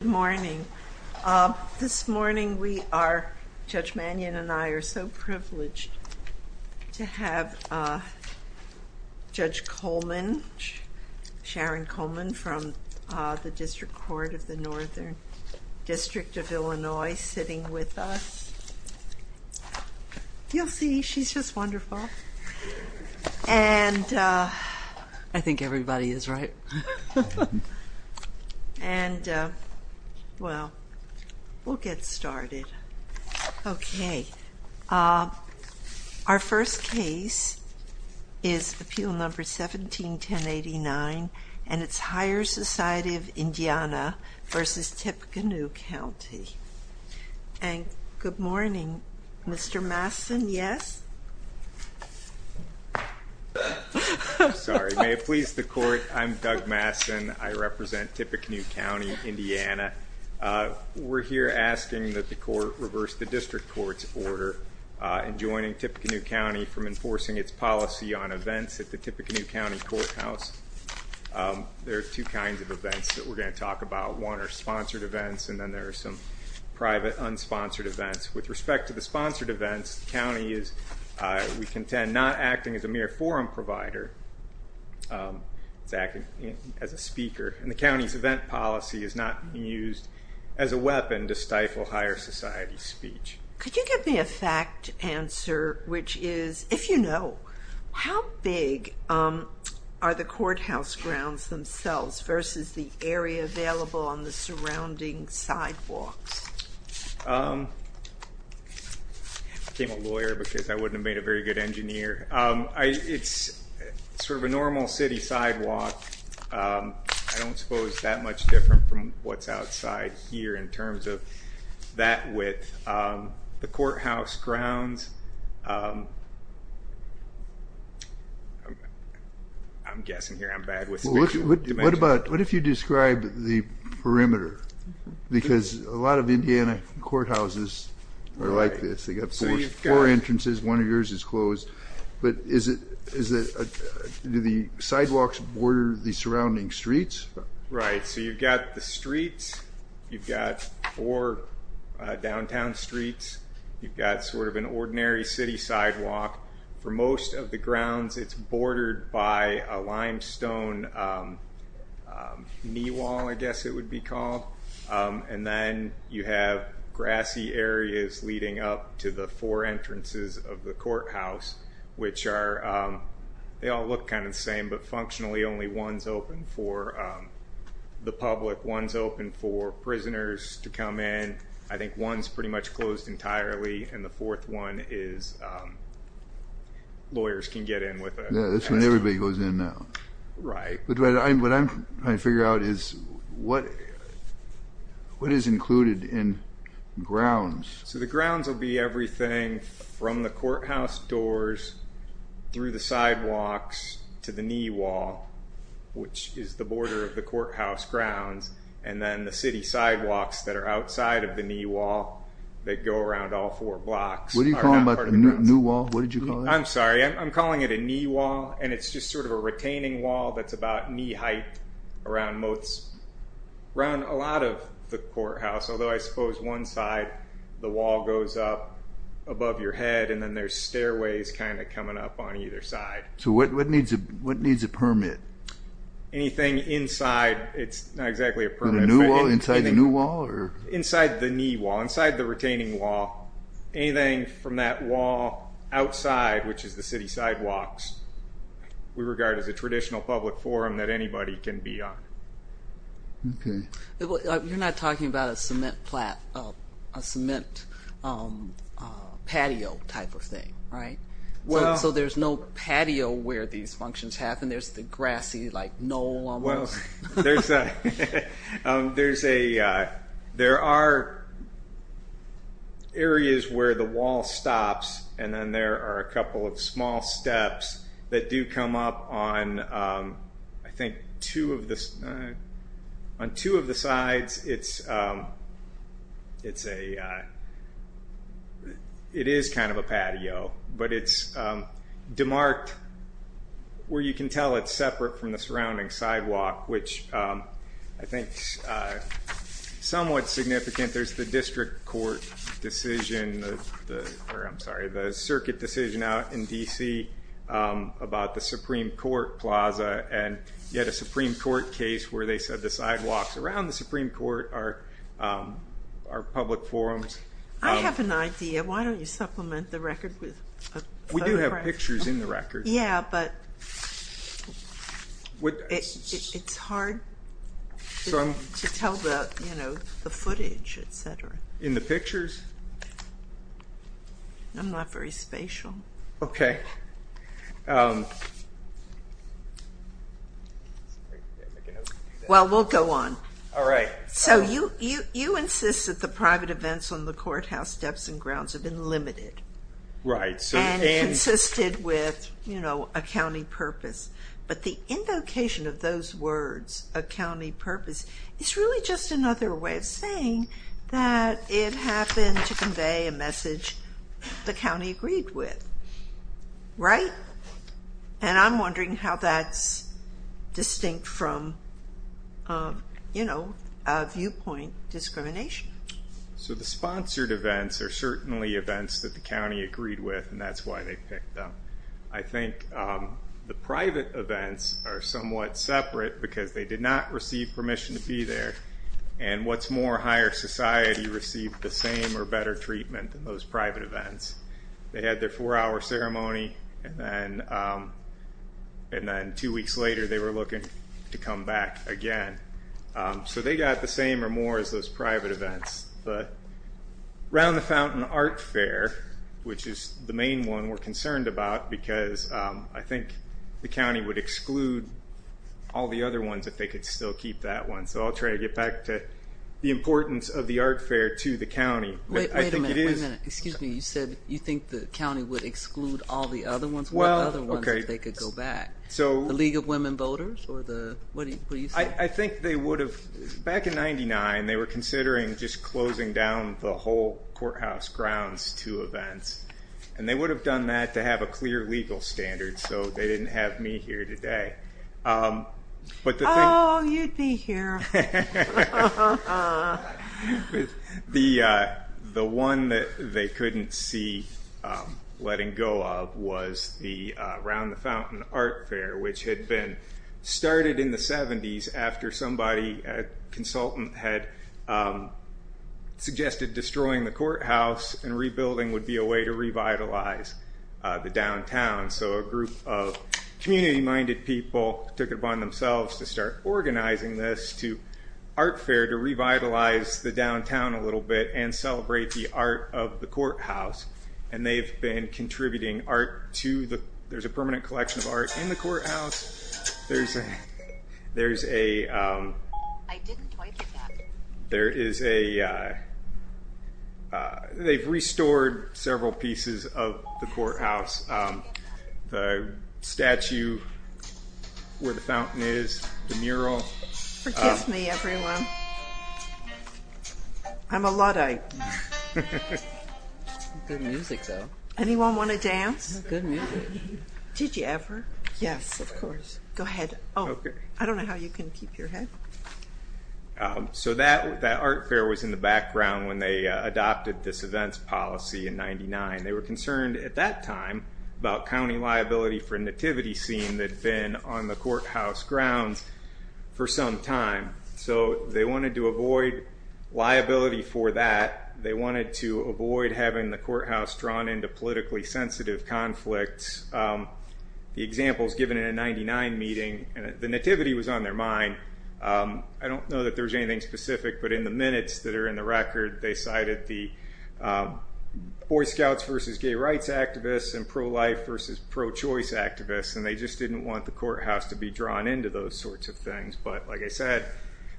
Good morning. This morning, Judge Mannion and I are so privileged to have Judge Coleman, Sharon Coleman, from the District Court of the Northern District of Illinois sitting with us. You'll see, she's just wonderful. And I think everybody is right. And well, we'll get started. Okay. Our first case is Appeal Number 17-1089 and it's Higher Society of Indiana v. Tippecanoe County. And good morning. Mr. Mastin, yes? I'm sorry. May it please the Court, I'm Doug Mastin. I represent Tippecanoe County, Indiana. We're here asking that the Court reverse the District Court's order in joining Tippecanoe County from enforcing its policy on events at the Tippecanoe County Courthouse. There are two kinds of events that we're going to talk about. One are sponsored events and then there are some private unsponsored events. With respect to the sponsored events, the County is, we contend, not acting as a mere forum provider. It's acting as a speaker. And the County's event policy is not used as a weapon to stifle Higher Society speech. Could you give me a fact answer, which is, if you know, how big are the courthouse grounds themselves versus the area available on the surrounding sidewalks? I became a lawyer because I wouldn't have made a very good engineer. It's sort of a normal city sidewalk. I don't suppose that much different from what's outside here in terms of that width. The courthouse grounds, I'm guessing here I'm bad with dimensions. What if you describe the perimeter? Because a lot of Indiana courthouses are like this. They've got four entrances, one of yours is closed. But do the sidewalks border the surrounding streets? Right, so you've got the streets, you've got four downtown streets, you've got sort of an ordinary city sidewalk. For most of the grounds, it's bordered by a limestone knee wall, I guess it would be called. And then you have grassy areas leading up to the four entrances of the courthouse, which are, they all look kind of the same, but functionally only one's open for the public. One's open for prisoners to come in, I think one's pretty much closed entirely, and the fourth one is lawyers can get in with a... Yeah, that's when everybody goes in now. Right. What I'm trying to figure out is what is included in grounds? So the grounds will be everything from the courthouse doors through the sidewalks to the knee wall, which is the border of the courthouse grounds. And then the city sidewalks that are outside of the knee wall that go around all four blocks... What are you calling that, the new wall? What did you call it? I'm sorry, I'm calling it a knee wall, and it's just sort of a retaining wall that's about knee height around most, around a lot of the courthouse. Although I suppose one side, the wall goes up above your head, and then there's stairways kind of coming up on either side. So what needs a permit? Anything inside, it's not exactly a permit. The new wall, inside the new wall? Inside the knee wall, inside the retaining wall. Anything from that wall outside, which is the city sidewalks, we regard as a traditional public forum that anybody can be on. Okay. You're not talking about a cement patio type of thing, right? Well... So there's no patio where these functions happen. There's the grassy, like, knoll almost. There are areas where the wall stops, and then there are a couple of small steps that do come up on, I think, two of the sides. It is kind of a patio, but it's demarked where you can tell it's separate from the surrounding sidewalk, which I think is somewhat significant. There's the district court decision, or I'm sorry, the circuit decision out in D.C. about the Supreme Court Plaza, and you had a Supreme Court case where they said the sidewalks around the Supreme Court are public forums. I have an idea. Why don't you supplement the record with a photograph? Yeah, but it's hard to tell the footage, et cetera. In the pictures? I'm not very spatial. Okay. Well, we'll go on. All right. So you insist that the private events on the courthouse steps and grounds have been limited. Right. And consisted with a county purpose. But the invocation of those words, a county purpose, is really just another way of saying that it happened to convey a message the county agreed with. Right? And I'm wondering how that's distinct from a viewpoint discrimination. So the sponsored events are certainly events that the county agreed with, and that's why they picked them. I think the private events are somewhat separate because they did not receive permission to be there, and what's more, higher society received the same or better treatment than those private events. They had their four-hour ceremony, and then two weeks later they were looking to come back again. So they got the same or more as those private events. But Round the Fountain Art Fair, which is the main one we're concerned about, because I think the county would exclude all the other ones if they could still keep that one. So I'll try to get back to the importance of the art fair to the county. Wait a minute. Excuse me. You said you think the county would exclude all the other ones? What other ones if they could go back? The League of Women Voters? I think they would have. Back in 1999, they were considering just closing down the whole Courthouse Grounds to events, and they would have done that to have a clear legal standard, so they didn't have me here today. Oh, you'd be here. The one that they couldn't see letting go of was the Round the Fountain Art Fair, which had been started in the 70s after somebody, a consultant, had suggested destroying the courthouse and rebuilding would be a way to revitalize the downtown. So a group of community-minded people took it upon themselves to start organizing this art fair to revitalize the downtown a little bit and celebrate the art of the courthouse, and they've been contributing art to the—there's a permanent collection of art in the courthouse. There's a—there's a— I didn't point at that. There is a—they've restored several pieces of the courthouse. The statue where the fountain is, the mural. Forgive me, everyone. I'm a Luddite. Good music, though. Anyone want to dance? Good music. Did you ever? Yes, of course. Go ahead. Oh, I don't know how you can keep your head. So that art fair was in the background when they adopted this events policy in 99. They were concerned at that time about county liability for a nativity scene that had been on the courthouse grounds for some time, so they wanted to avoid liability for that. They wanted to avoid having the courthouse drawn into politically sensitive conflicts. The examples given in a 99 meeting, the nativity was on their mind. I don't know that there was anything specific, but in the minutes that are in the record, they cited the Boy Scouts versus gay rights activists and pro-life versus pro-choice activists, and they just didn't want the courthouse to be drawn into those sorts of things. But like I said,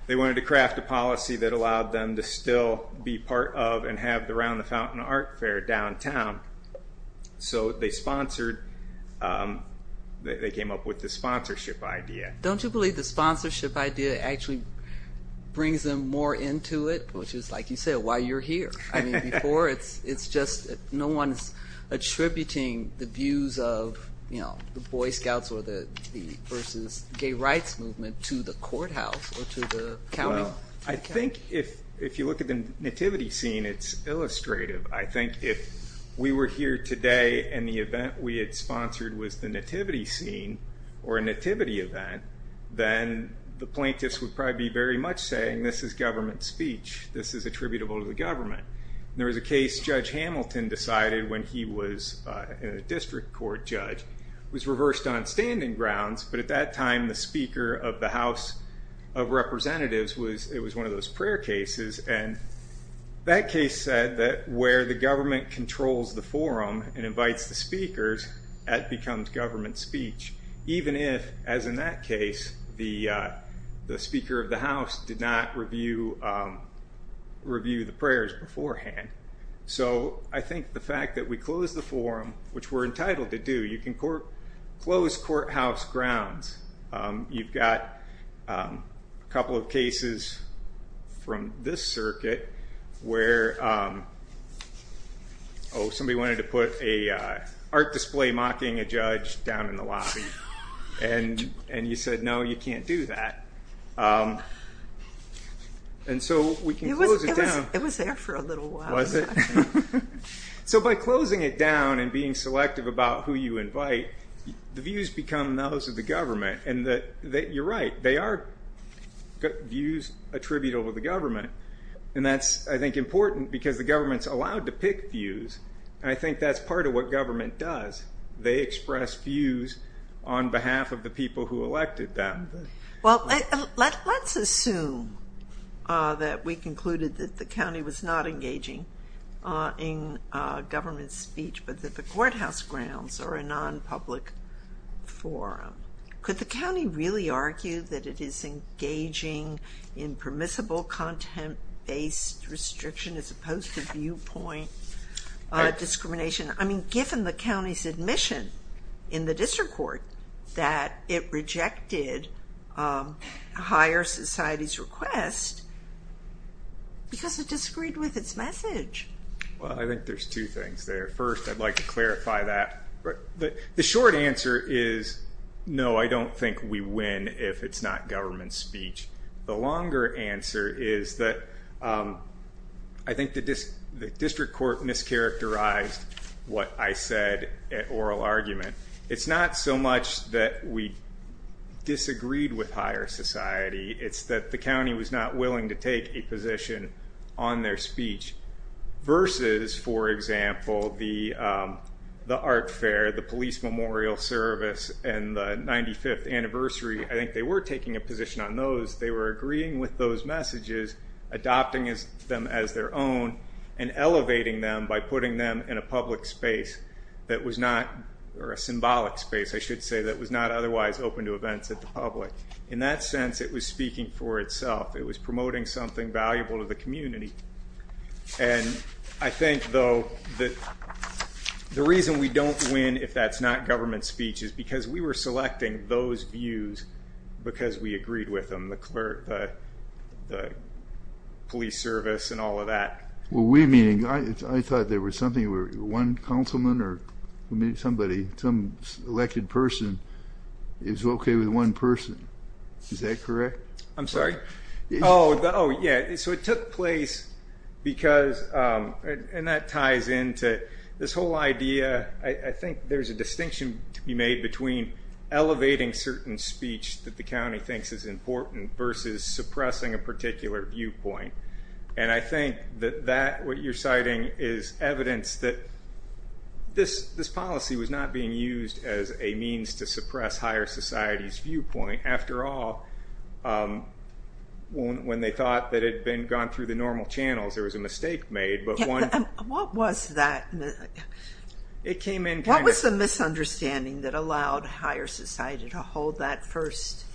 they wanted to craft a policy that allowed them to still be part of and have the Round the Fountain Art Fair downtown. So they sponsored, they came up with the sponsorship idea. Don't you believe the sponsorship idea actually brings them more into it, which is like you said, why you're here? I mean before, it's just no one's attributing the views of the Boy Scouts or the versus gay rights movement to the courthouse or to the county. Well, I think if you look at the nativity scene, it's illustrative. I think if we were here today and the event we had sponsored was the nativity scene or a nativity event, then the plaintiffs would probably be very much saying, this is government speech, this is attributable to the government. There was a case Judge Hamilton decided when he was a district court judge, was reversed on standing grounds, but at that time the Speaker of the House of Representatives, it was one of those prayer cases, and that case said that where the government controls the forum and invites the speakers, that becomes government speech, even if, as in that case, the Speaker of the House did not review the prayers beforehand. So I think the fact that we closed the forum, which we're entitled to do, you can close courthouse grounds. You've got a couple of cases from this circuit where somebody wanted to put an art display mocking a judge down in the lobby, and you said, no, you can't do that. And so we can close it down. It was there for a little while. So by closing it down and being selective about who you invite, the views become those of the government, and you're right, they are views attributable to the government, and that's, I think, important because the government's allowed to pick views, and I think that's part of what government does. They express views on behalf of the people who elected them. Well, let's assume that we concluded that the county was not engaging in government speech but that the courthouse grounds are a non-public forum. Could the county really argue that it is engaging in permissible content-based restriction as opposed to viewpoint discrimination? I mean, given the county's admission in the district court that it rejected a higher society's request because it disagreed with its message. Well, I think there's two things there. First, I'd like to clarify that. The short answer is, no, I don't think we win if it's not government speech. The longer answer is that I think the district court mischaracterized what I said at oral argument. It's not so much that we disagreed with higher society. It's that the county was not willing to take a position on their speech versus, for example, the art fair, the police memorial service, and the 95th anniversary. I think they were taking a position on those. They were agreeing with those messages, adopting them as their own, and elevating them by putting them in a public space that was not, or a symbolic space, I should say, that was not otherwise open to events at the public. In that sense, it was speaking for itself. It was promoting something valuable to the community. And I think, though, that the reason we don't win if that's not government speech is because we were selecting those views because we agreed with them, the police service and all of that. Well, we meaning, I thought there was something where one councilman or somebody, some elected person is okay with one person. Is that correct? I'm sorry? Oh, yeah, so it took place because, and that ties into this whole idea. I think there's a distinction to be made between elevating certain speech that the county thinks is important versus suppressing a particular viewpoint. And I think that what you're citing is evidence that this policy was not being used as a means to suppress higher society's viewpoint. After all, when they thought that it had gone through the normal channels, there was a mistake made. What was that? It came in kind of- What was the misunderstanding that allowed higher society to hold that first event?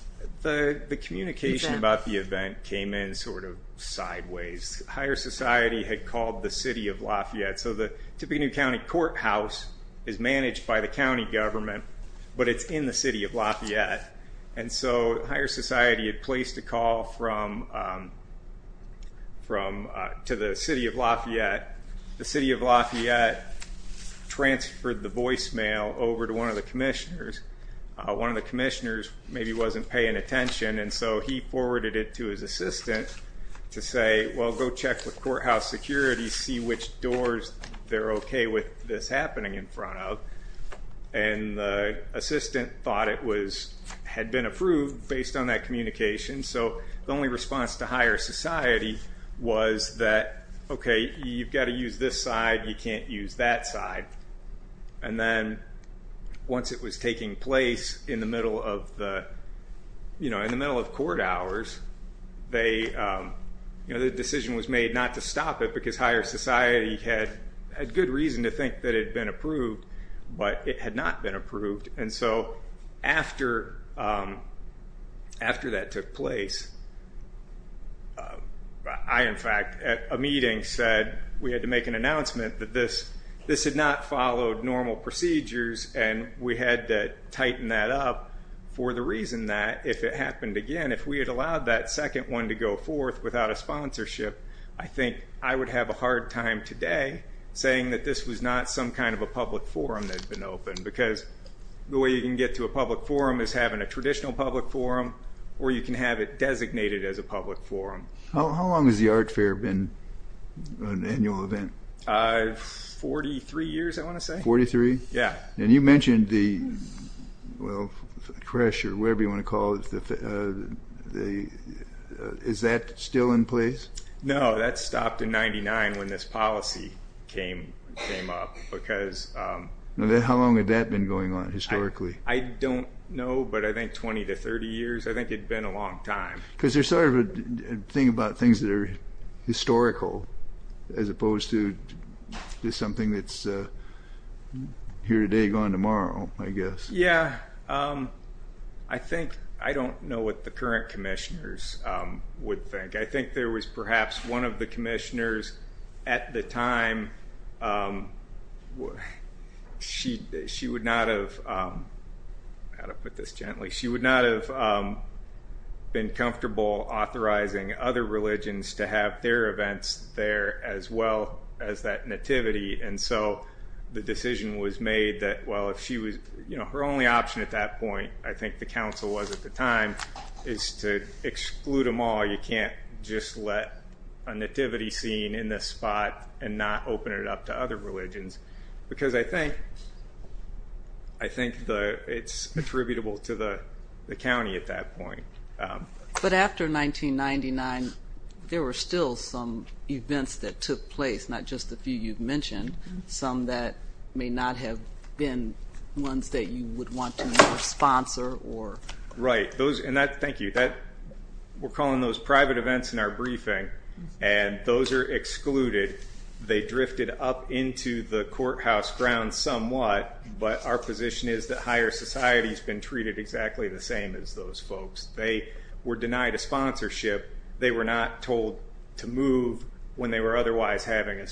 The communication about the event came in sort of sideways. Higher society had called the city of Lafayette. So the Topinio County Courthouse is managed by the county government, but it's in the city of Lafayette. And so higher society had placed a call to the city of Lafayette. The city of Lafayette transferred the voicemail over to one of the commissioners. One of the commissioners maybe wasn't paying attention, and so he forwarded it to his assistant to say, well, go check with courthouse security, see which doors they're okay with this happening in front of. And the assistant thought it had been approved based on that communication. So the only response to higher society was that, okay, you've got to use this side, you can't use that side. And then once it was taking place in the middle of the-in the middle of court hours, the decision was made not to stop it because higher society had good reason to think that it had been approved, but it had not been approved. And so after that took place, I, in fact, at a meeting said we had to make an announcement that this had not followed normal procedures, and we had to tighten that up for the reason that if it happened again, if we had allowed that second one to go forth without a sponsorship, I think I would have a hard time today saying that this was not some kind of a public forum that had been opened. Because the way you can get to a public forum is having a traditional public forum, or you can have it designated as a public forum. How long has the art fair been an annual event? Forty-three years, I want to say. Forty-three? Yeah. And you mentioned the, well, CRESH or whatever you want to call it. Is that still in place? No, that stopped in 1999 when this policy came up because- How long had that been going on historically? I don't know, but I think 20 to 30 years. I think it had been a long time. Because there's sort of a thing about things that are historical as opposed to just something that's here today, gone tomorrow, I guess. Yeah. I think, I don't know what the current commissioners would think. I think there was perhaps one of the commissioners at the time, she would not have, how to put this gently, she would not have been comfortable authorizing other religions to have their events there as well as that nativity. And so the decision was made that, well, if she was, her only option at that point, I think the council was at the time, is to exclude them all. You can't just let a nativity scene in this spot and not open it up to other religions. Because I think it's attributable to the county at that point. But after 1999, there were still some events that took place, not just the few you've mentioned, some that may not have been ones that you would want to sponsor. Right. Thank you. We're calling those private events in our briefing, and those are excluded. They drifted up into the courthouse grounds somewhat, but our position is that higher society has been treated exactly the same as those folks. They were denied a sponsorship. They were not told to move when they were otherwise having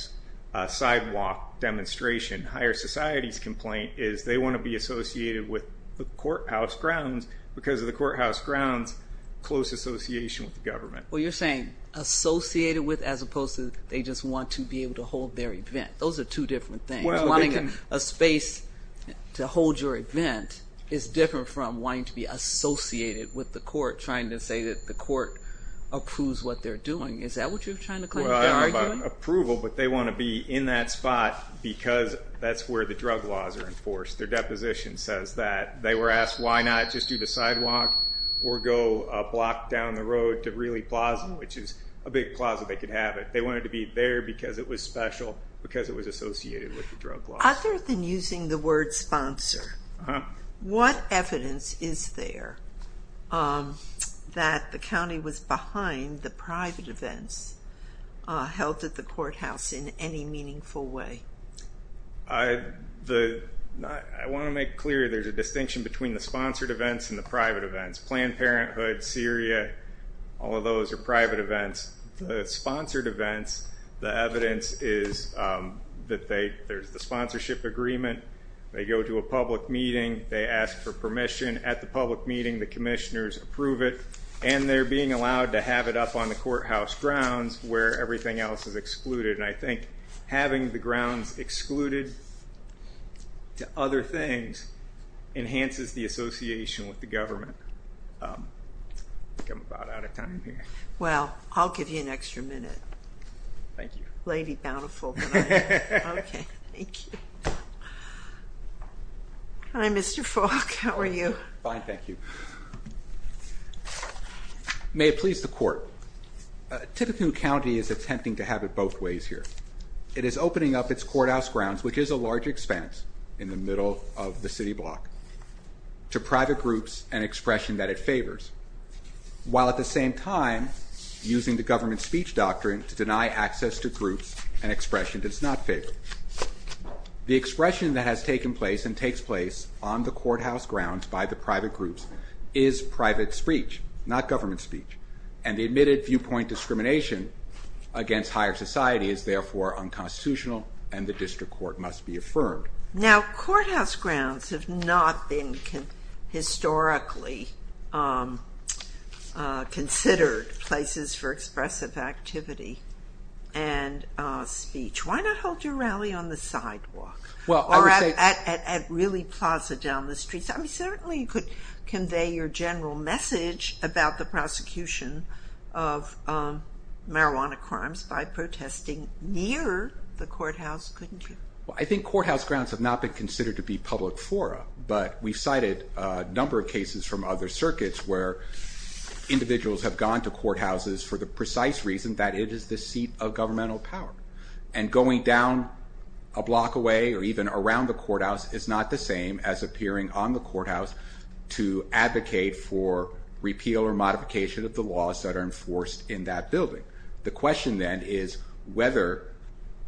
a sidewalk demonstration. Higher society's complaint is they want to be associated with the courthouse grounds because of the courthouse grounds' close association with the government. Well, you're saying associated with as opposed to they just want to be able to hold their event. Those are two different things. Wanting a space to hold your event is different from wanting to be associated with the court, trying to say that the court approves what they're doing. Is that what you're trying to claim? Well, I don't know about approval, but they want to be in that spot because that's where the drug laws are enforced. Their deposition says that. They were asked why not just do the sidewalk or go a block down the road to Reilly Plaza, which is a big plaza they could have it. They wanted to be there because it was special, because it was associated with the drug laws. Other than using the word sponsor, what evidence is there that the county was behind the private events held at the courthouse in any meaningful way? I want to make clear there's a distinction between the sponsored events and the private events. Planned Parenthood, Syria, all of those are private events. The sponsored events, the evidence is that there's the sponsorship agreement. They go to a public meeting. They ask for permission. At the public meeting, the commissioners approve it, and they're being allowed to have it up on the courthouse grounds where everything else is excluded. And I think having the grounds excluded to other things enhances the association with the government. I think I'm about out of time here. Well, I'll give you an extra minute. Thank you. Lady bountiful. Okay. Thank you. Hi, Mr. Falk. How are you? Fine, thank you. May it please the court. Tippecanoe County is attempting to have it both ways here. It is opening up its courthouse grounds, which is a large expanse in the middle of the city block, to private groups and expression that it favors, while at the same time using the government speech doctrine to deny access to groups and expression that it's not favored. The expression that has taken place and takes place on the courthouse grounds by the private groups is private speech, not government speech. And the admitted viewpoint discrimination against higher society is, therefore, unconstitutional, and the district court must be affirmed. Now, courthouse grounds have not been historically considered places for expressive activity and speech. Why not hold your rally on the sidewalk or at, really, Plaza down the street? I mean, certainly you could convey your general message about the prosecution of marijuana crimes by protesting near the courthouse, couldn't you? Well, I think courthouse grounds have not been considered to be public fora, but we've cited a number of cases from other circuits where individuals have gone to courthouses for the precise reason that it is the seat of governmental power, and going down a block away or even around the courthouse is not the same as appearing on the courthouse to advocate for repeal or modification of the laws that are enforced in that building. The question, then, is whether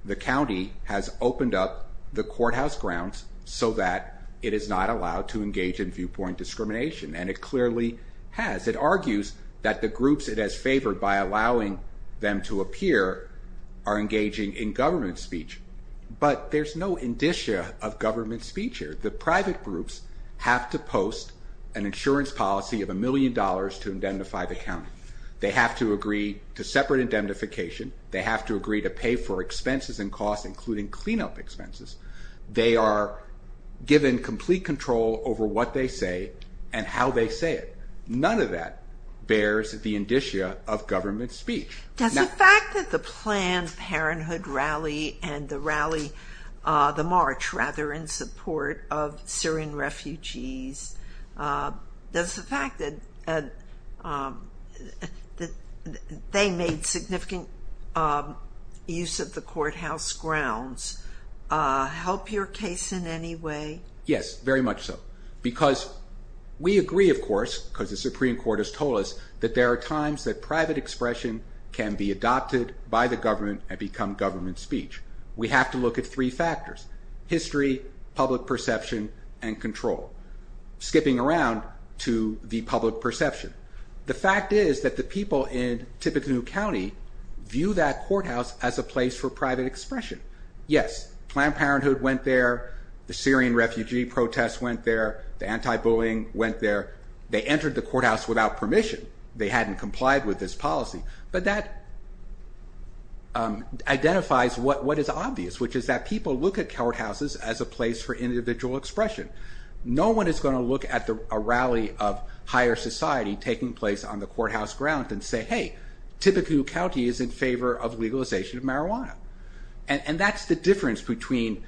the county has opened up the courthouse grounds so that it is not allowed to engage in viewpoint discrimination, and it clearly has. It argues that the groups it has favored by allowing them to appear are engaging in government speech, but there's no indicia of government speech here. The private groups have to post an insurance policy of a million dollars to indemnify the county. They have to agree to separate indemnification. They have to agree to pay for expenses and costs, including cleanup expenses. They are given complete control over what they say and how they say it. None of that bears the indicia of government speech. Does the fact that the Planned Parenthood rally and the rally, the march, rather, in support of Syrian refugees, does the fact that they made significant use of the courthouse grounds help your case in any way? Yes, very much so, because we agree, of course, because the Supreme Court has told us, that there are times that private expression can be adopted by the government and become government speech. We have to look at three factors, history, public perception, and control. Skipping around to the public perception, the fact is that the people in Tippecanoe County view that courthouse as a place for private expression. Yes, Planned Parenthood went there, the Syrian refugee protests went there, the anti-bullying went there. They entered the courthouse without permission. They hadn't complied with this policy, but that identifies what is obvious, which is that people look at courthouses as a place for individual expression. No one is going to look at a rally of higher society taking place on the courthouse ground and say, hey, Tippecanoe County is in favor of legalization of marijuana. And that's the difference between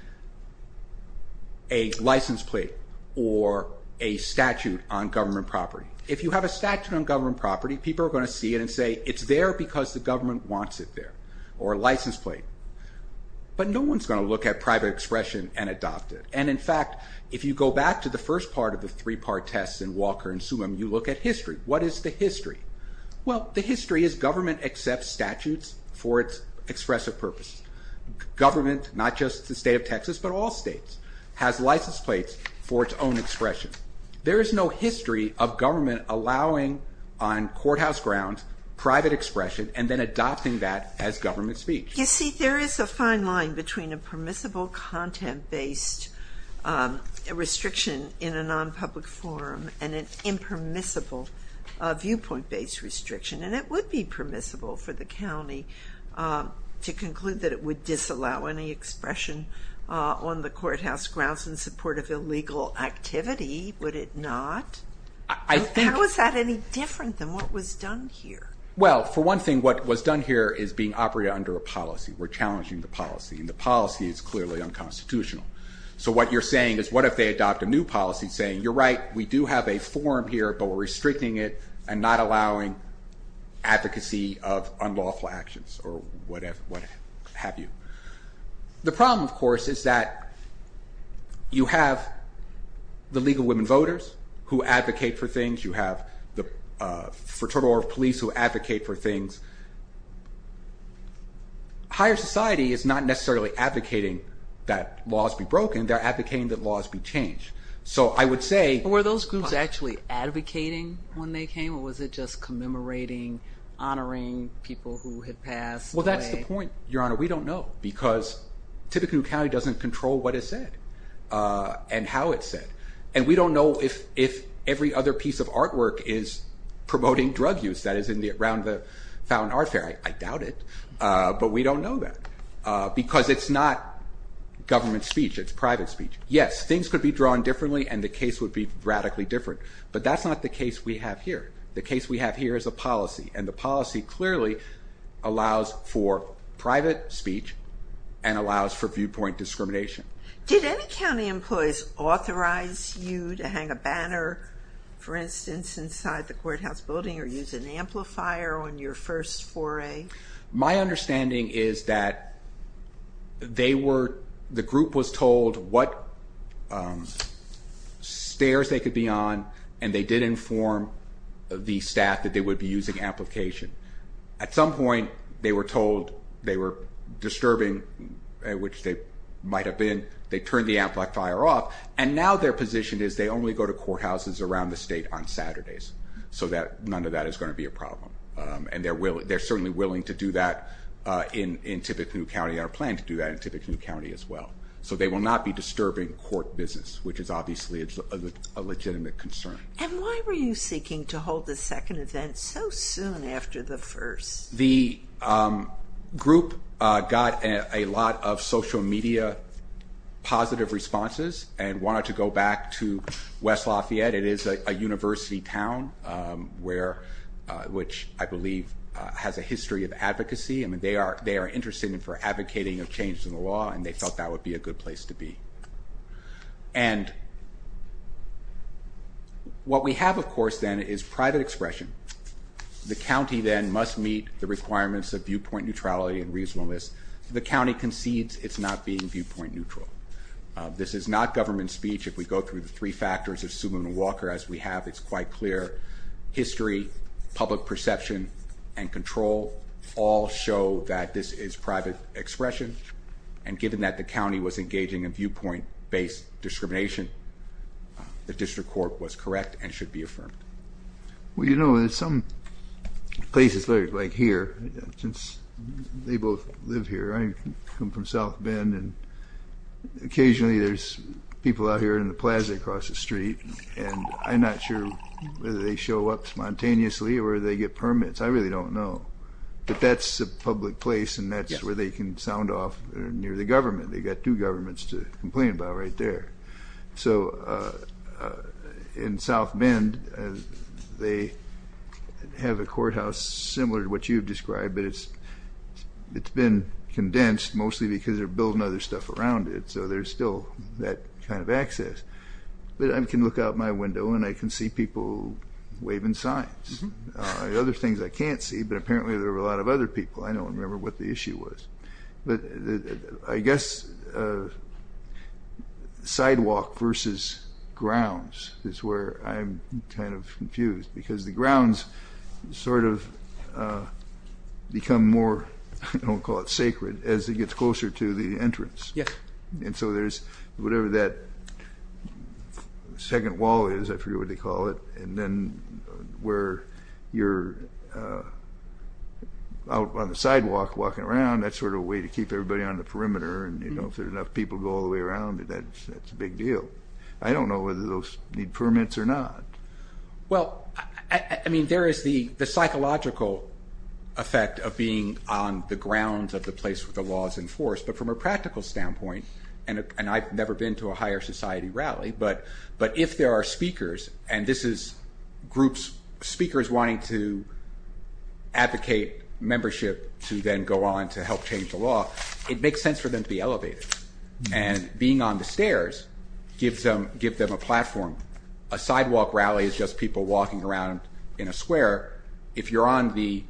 a license plate or a statute on government property. If you have a statute on government property, people are going to see it and say, it's there because the government wants it there, or a license plate. But no one is going to look at private expression and adopt it. And in fact, if you go back to the first part of the three-part test in Walker and Sumim, you look at history. What is the history? Well, the history is government accepts statutes for its expressive purposes. Government, not just the state of Texas, but all states, has license plates for its own expression. There is no history of government allowing on courthouse grounds private expression and then adopting that as government speech. You see, there is a fine line between a permissible content-based restriction in a non-public forum and an impermissible viewpoint-based restriction. And it would be permissible for the county to conclude that it would disallow any expression on the courthouse grounds in support of illegal activity, would it not? How is that any different than what was done here? Well, for one thing, what was done here is being operated under a policy. We're challenging the policy, and the policy is clearly unconstitutional. So what you're saying is, what if they adopt a new policy saying, you're right, we do have a forum here, but we're restricting it and not allowing advocacy of unlawful actions or what have you. The problem, of course, is that you have the League of Women Voters who advocate for things, you have the Fraternal Order of Police who advocate for things. Higher society is not necessarily advocating that laws be broken, they're advocating that laws be changed. So I would say... Were those groups actually advocating when they came, or was it just commemorating, honoring people who had passed away? Well, that's the point, Your Honor. We don't know, because Tippecanoe County doesn't control what is said and how it's said. And we don't know if every other piece of artwork is promoting drug use that is around the Fountain Art Fair. I doubt it, but we don't know that, because it's not government speech, it's private speech. Yes, things could be drawn differently, and the case would be radically different, but that's not the case we have here. The case we have here is a policy, and the policy clearly allows for private speech and allows for viewpoint discrimination. Did any county employees authorize you to hang a banner, for instance, inside the courthouse building or use an amplifier on your first foray? My understanding is that they were... the group was told what stairs they could be on, and they did inform the staff that they would be using amplification. At some point, they were told they were disturbing, which they might have been. They turned the amplifier off, and now their position is they only go to courthouses around the state on Saturdays, so none of that is going to be a problem. And they're certainly willing to do that in Tippecanoe County and are planning to do that in Tippecanoe County as well. So they will not be disturbing court business, which is obviously a legitimate concern. And why were you seeking to hold the second event so soon after the first? The group got a lot of social media positive responses and wanted to go back to West Lafayette. It is a university town, which I believe has a history of advocacy. I mean, they are interested in advocating for changes in the law, and they thought that would be a good place to be. And what we have, of course, then, is private expression. The county, then, must meet the requirements of viewpoint neutrality and reasonableness. The county concedes it's not being viewpoint neutral. This is not government speech. If we go through the three factors of Suleiman Walker, as we have, it's quite clear. History, public perception, and control all show that this is private expression. And given that the county was engaging in viewpoint-based discrimination, the district court was correct and should be affirmed. Well, you know, in some places, like here, since they both live here, I come from South Bend, and occasionally there's people out here in the plaza across the street, and I'm not sure whether they show up spontaneously or they get permits. I really don't know. But that's a public place, and that's where they can sound off near the government. They've got two governments to complain about right there. So in South Bend, they have a courthouse similar to what you've described, but it's been condensed mostly because they're building other stuff around it, so there's still that kind of access. But I can look out my window and I can see people waving signs. There are other things I can't see, but apparently there are a lot of other people. I don't remember what the issue was. But I guess sidewalk versus grounds is where I'm kind of confused, because the grounds sort of become more, I don't want to call it sacred, as it gets closer to the entrance. Yes. And so there's whatever that second wall is, I forget what they call it, and then where you're out on the sidewalk walking around, that's sort of a way to keep everybody on the perimeter, and if there's enough people to go all the way around, that's a big deal. I don't know whether those need permits or not. Well, I mean, there is the psychological effect of being on the grounds of the place where the law is enforced, but from a practical standpoint, and I've never been to a higher society rally, but if there are speakers, and this is speakers wanting to advocate membership to then go on to help change the law, it makes sense for them to be elevated. And being on the stairs gives them a platform. A sidewalk rally is just people walking around in a square. If you're on the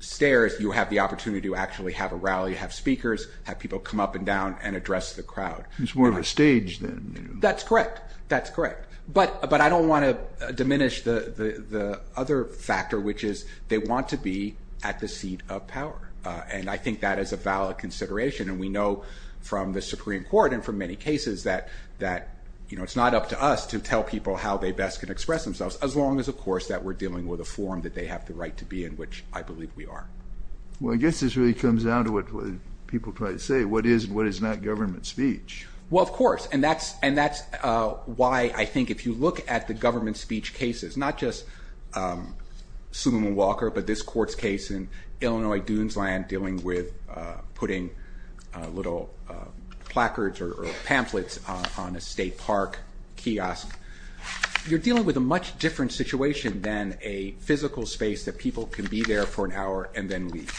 stairs, you have the opportunity to actually have a rally, have speakers, have people come up and down and address the crowd. It's more of a stage then. That's correct. That's correct. But I don't want to diminish the other factor, which is they want to be at the seat of power, and I think that is a valid consideration, and we know from the Supreme Court and from many cases that it's not up to us to tell people how they best can express themselves, as long as, of course, that we're dealing with a forum that they have the right to be in, which I believe we are. Well, I guess this really comes down to what people try to say, what is and what is not government speech. Well, of course, and that's why I think if you look at the government speech cases, not just Suleiman Walker but this court's case in Illinois Dunesland dealing with putting little placards or pamphlets on a state park kiosk, you're dealing with a much different situation than a physical space that people can be there for an hour and then leave.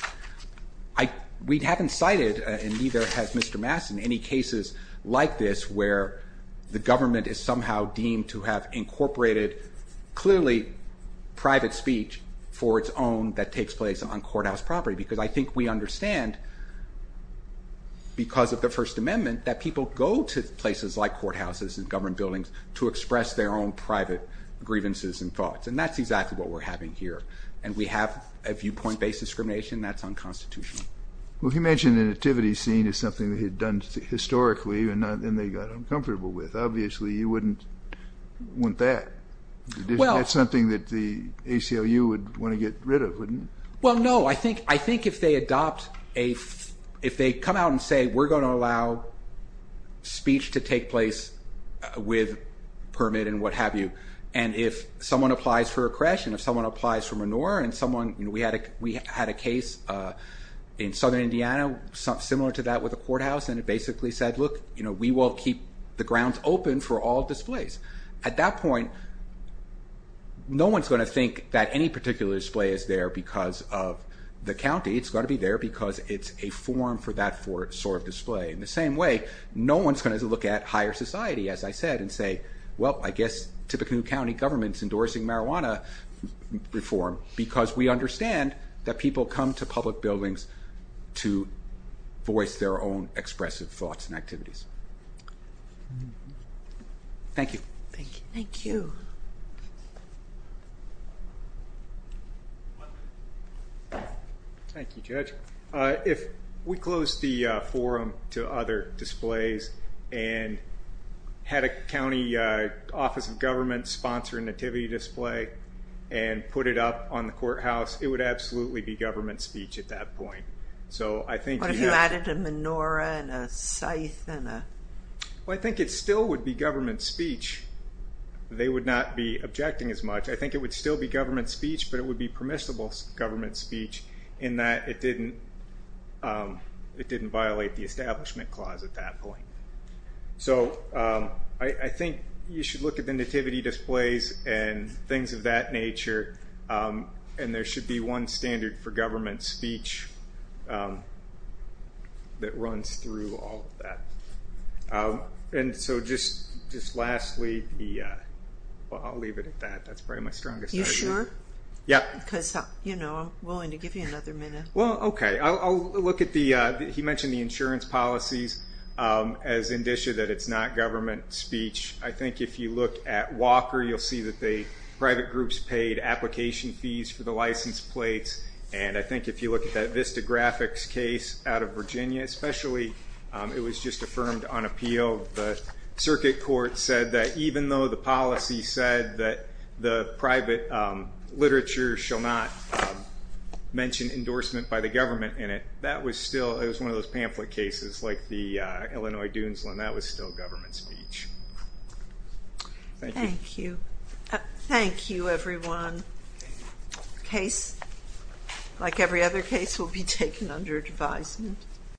We haven't cited, and neither has Mr. Mass in any cases like this where the government is somehow deemed to have incorporated clearly private speech for its own that takes place on courthouse property, because I think we understand because of the First Amendment that people go to places like courthouses and government buildings to express their own private grievances and thoughts, and that's exactly what we're having here, and we have a viewpoint-based discrimination that's unconstitutional. Well, you mentioned the nativity scene as something they had done historically and then they got uncomfortable with. Obviously, you wouldn't want that. That's something that the ACLU would want to get rid of, wouldn't it? Well, no. I think if they come out and say, we're going to allow speech to take place with permit and what have you, and if someone applies for a creche and if someone applies for manure and someone, we had a case in southern Indiana similar to that with a courthouse, and it basically said, look, we will keep the grounds open for all displays. At that point, no one's going to think that any particular display is there because of the county. It's got to be there because it's a forum for that sort of display. In the same way, no one's going to look at higher society, as I said, and say, well, I guess typically county government's endorsing marijuana reform because we understand that people come to public buildings to voice their own expressive thoughts and activities. Thank you. Thank you. Thank you, Judge. If we closed the forum to other displays and had a county office of government sponsor a nativity display and put it up on the courthouse, it would absolutely be government speech at that point. What if you added a menorah and a scythe? Well, I think it still would be government speech. They would not be objecting as much. I think it would still be government speech, but it would be permissible government speech in that it didn't violate the Establishment Clause at that point. So I think you should look at the nativity displays and things of that nature, and there should be one standard for government speech that runs through all of that. And so just lastly, I'll leave it at that. That's probably my strongest argument. You sure? Yeah. Because, you know, I'm willing to give you another minute. Well, okay. I'll look at the ‑‑ he mentioned the insurance policies as indicia that it's not government speech. I think if you look at Walker, you'll see that the private groups paid application fees for the license plates, and I think if you look at that Vista Graphics case out of Virginia, especially, it was just affirmed on appeal. The Circuit Court said that even though the policy said that the private literature shall not mention endorsement by the government in it, that was still ‑‑ it was one of those pamphlet cases like the Illinois Dunesland. That was still government speech. Thank you. Thank you. Thank you, everyone. A case like every other case will be taken under advisement.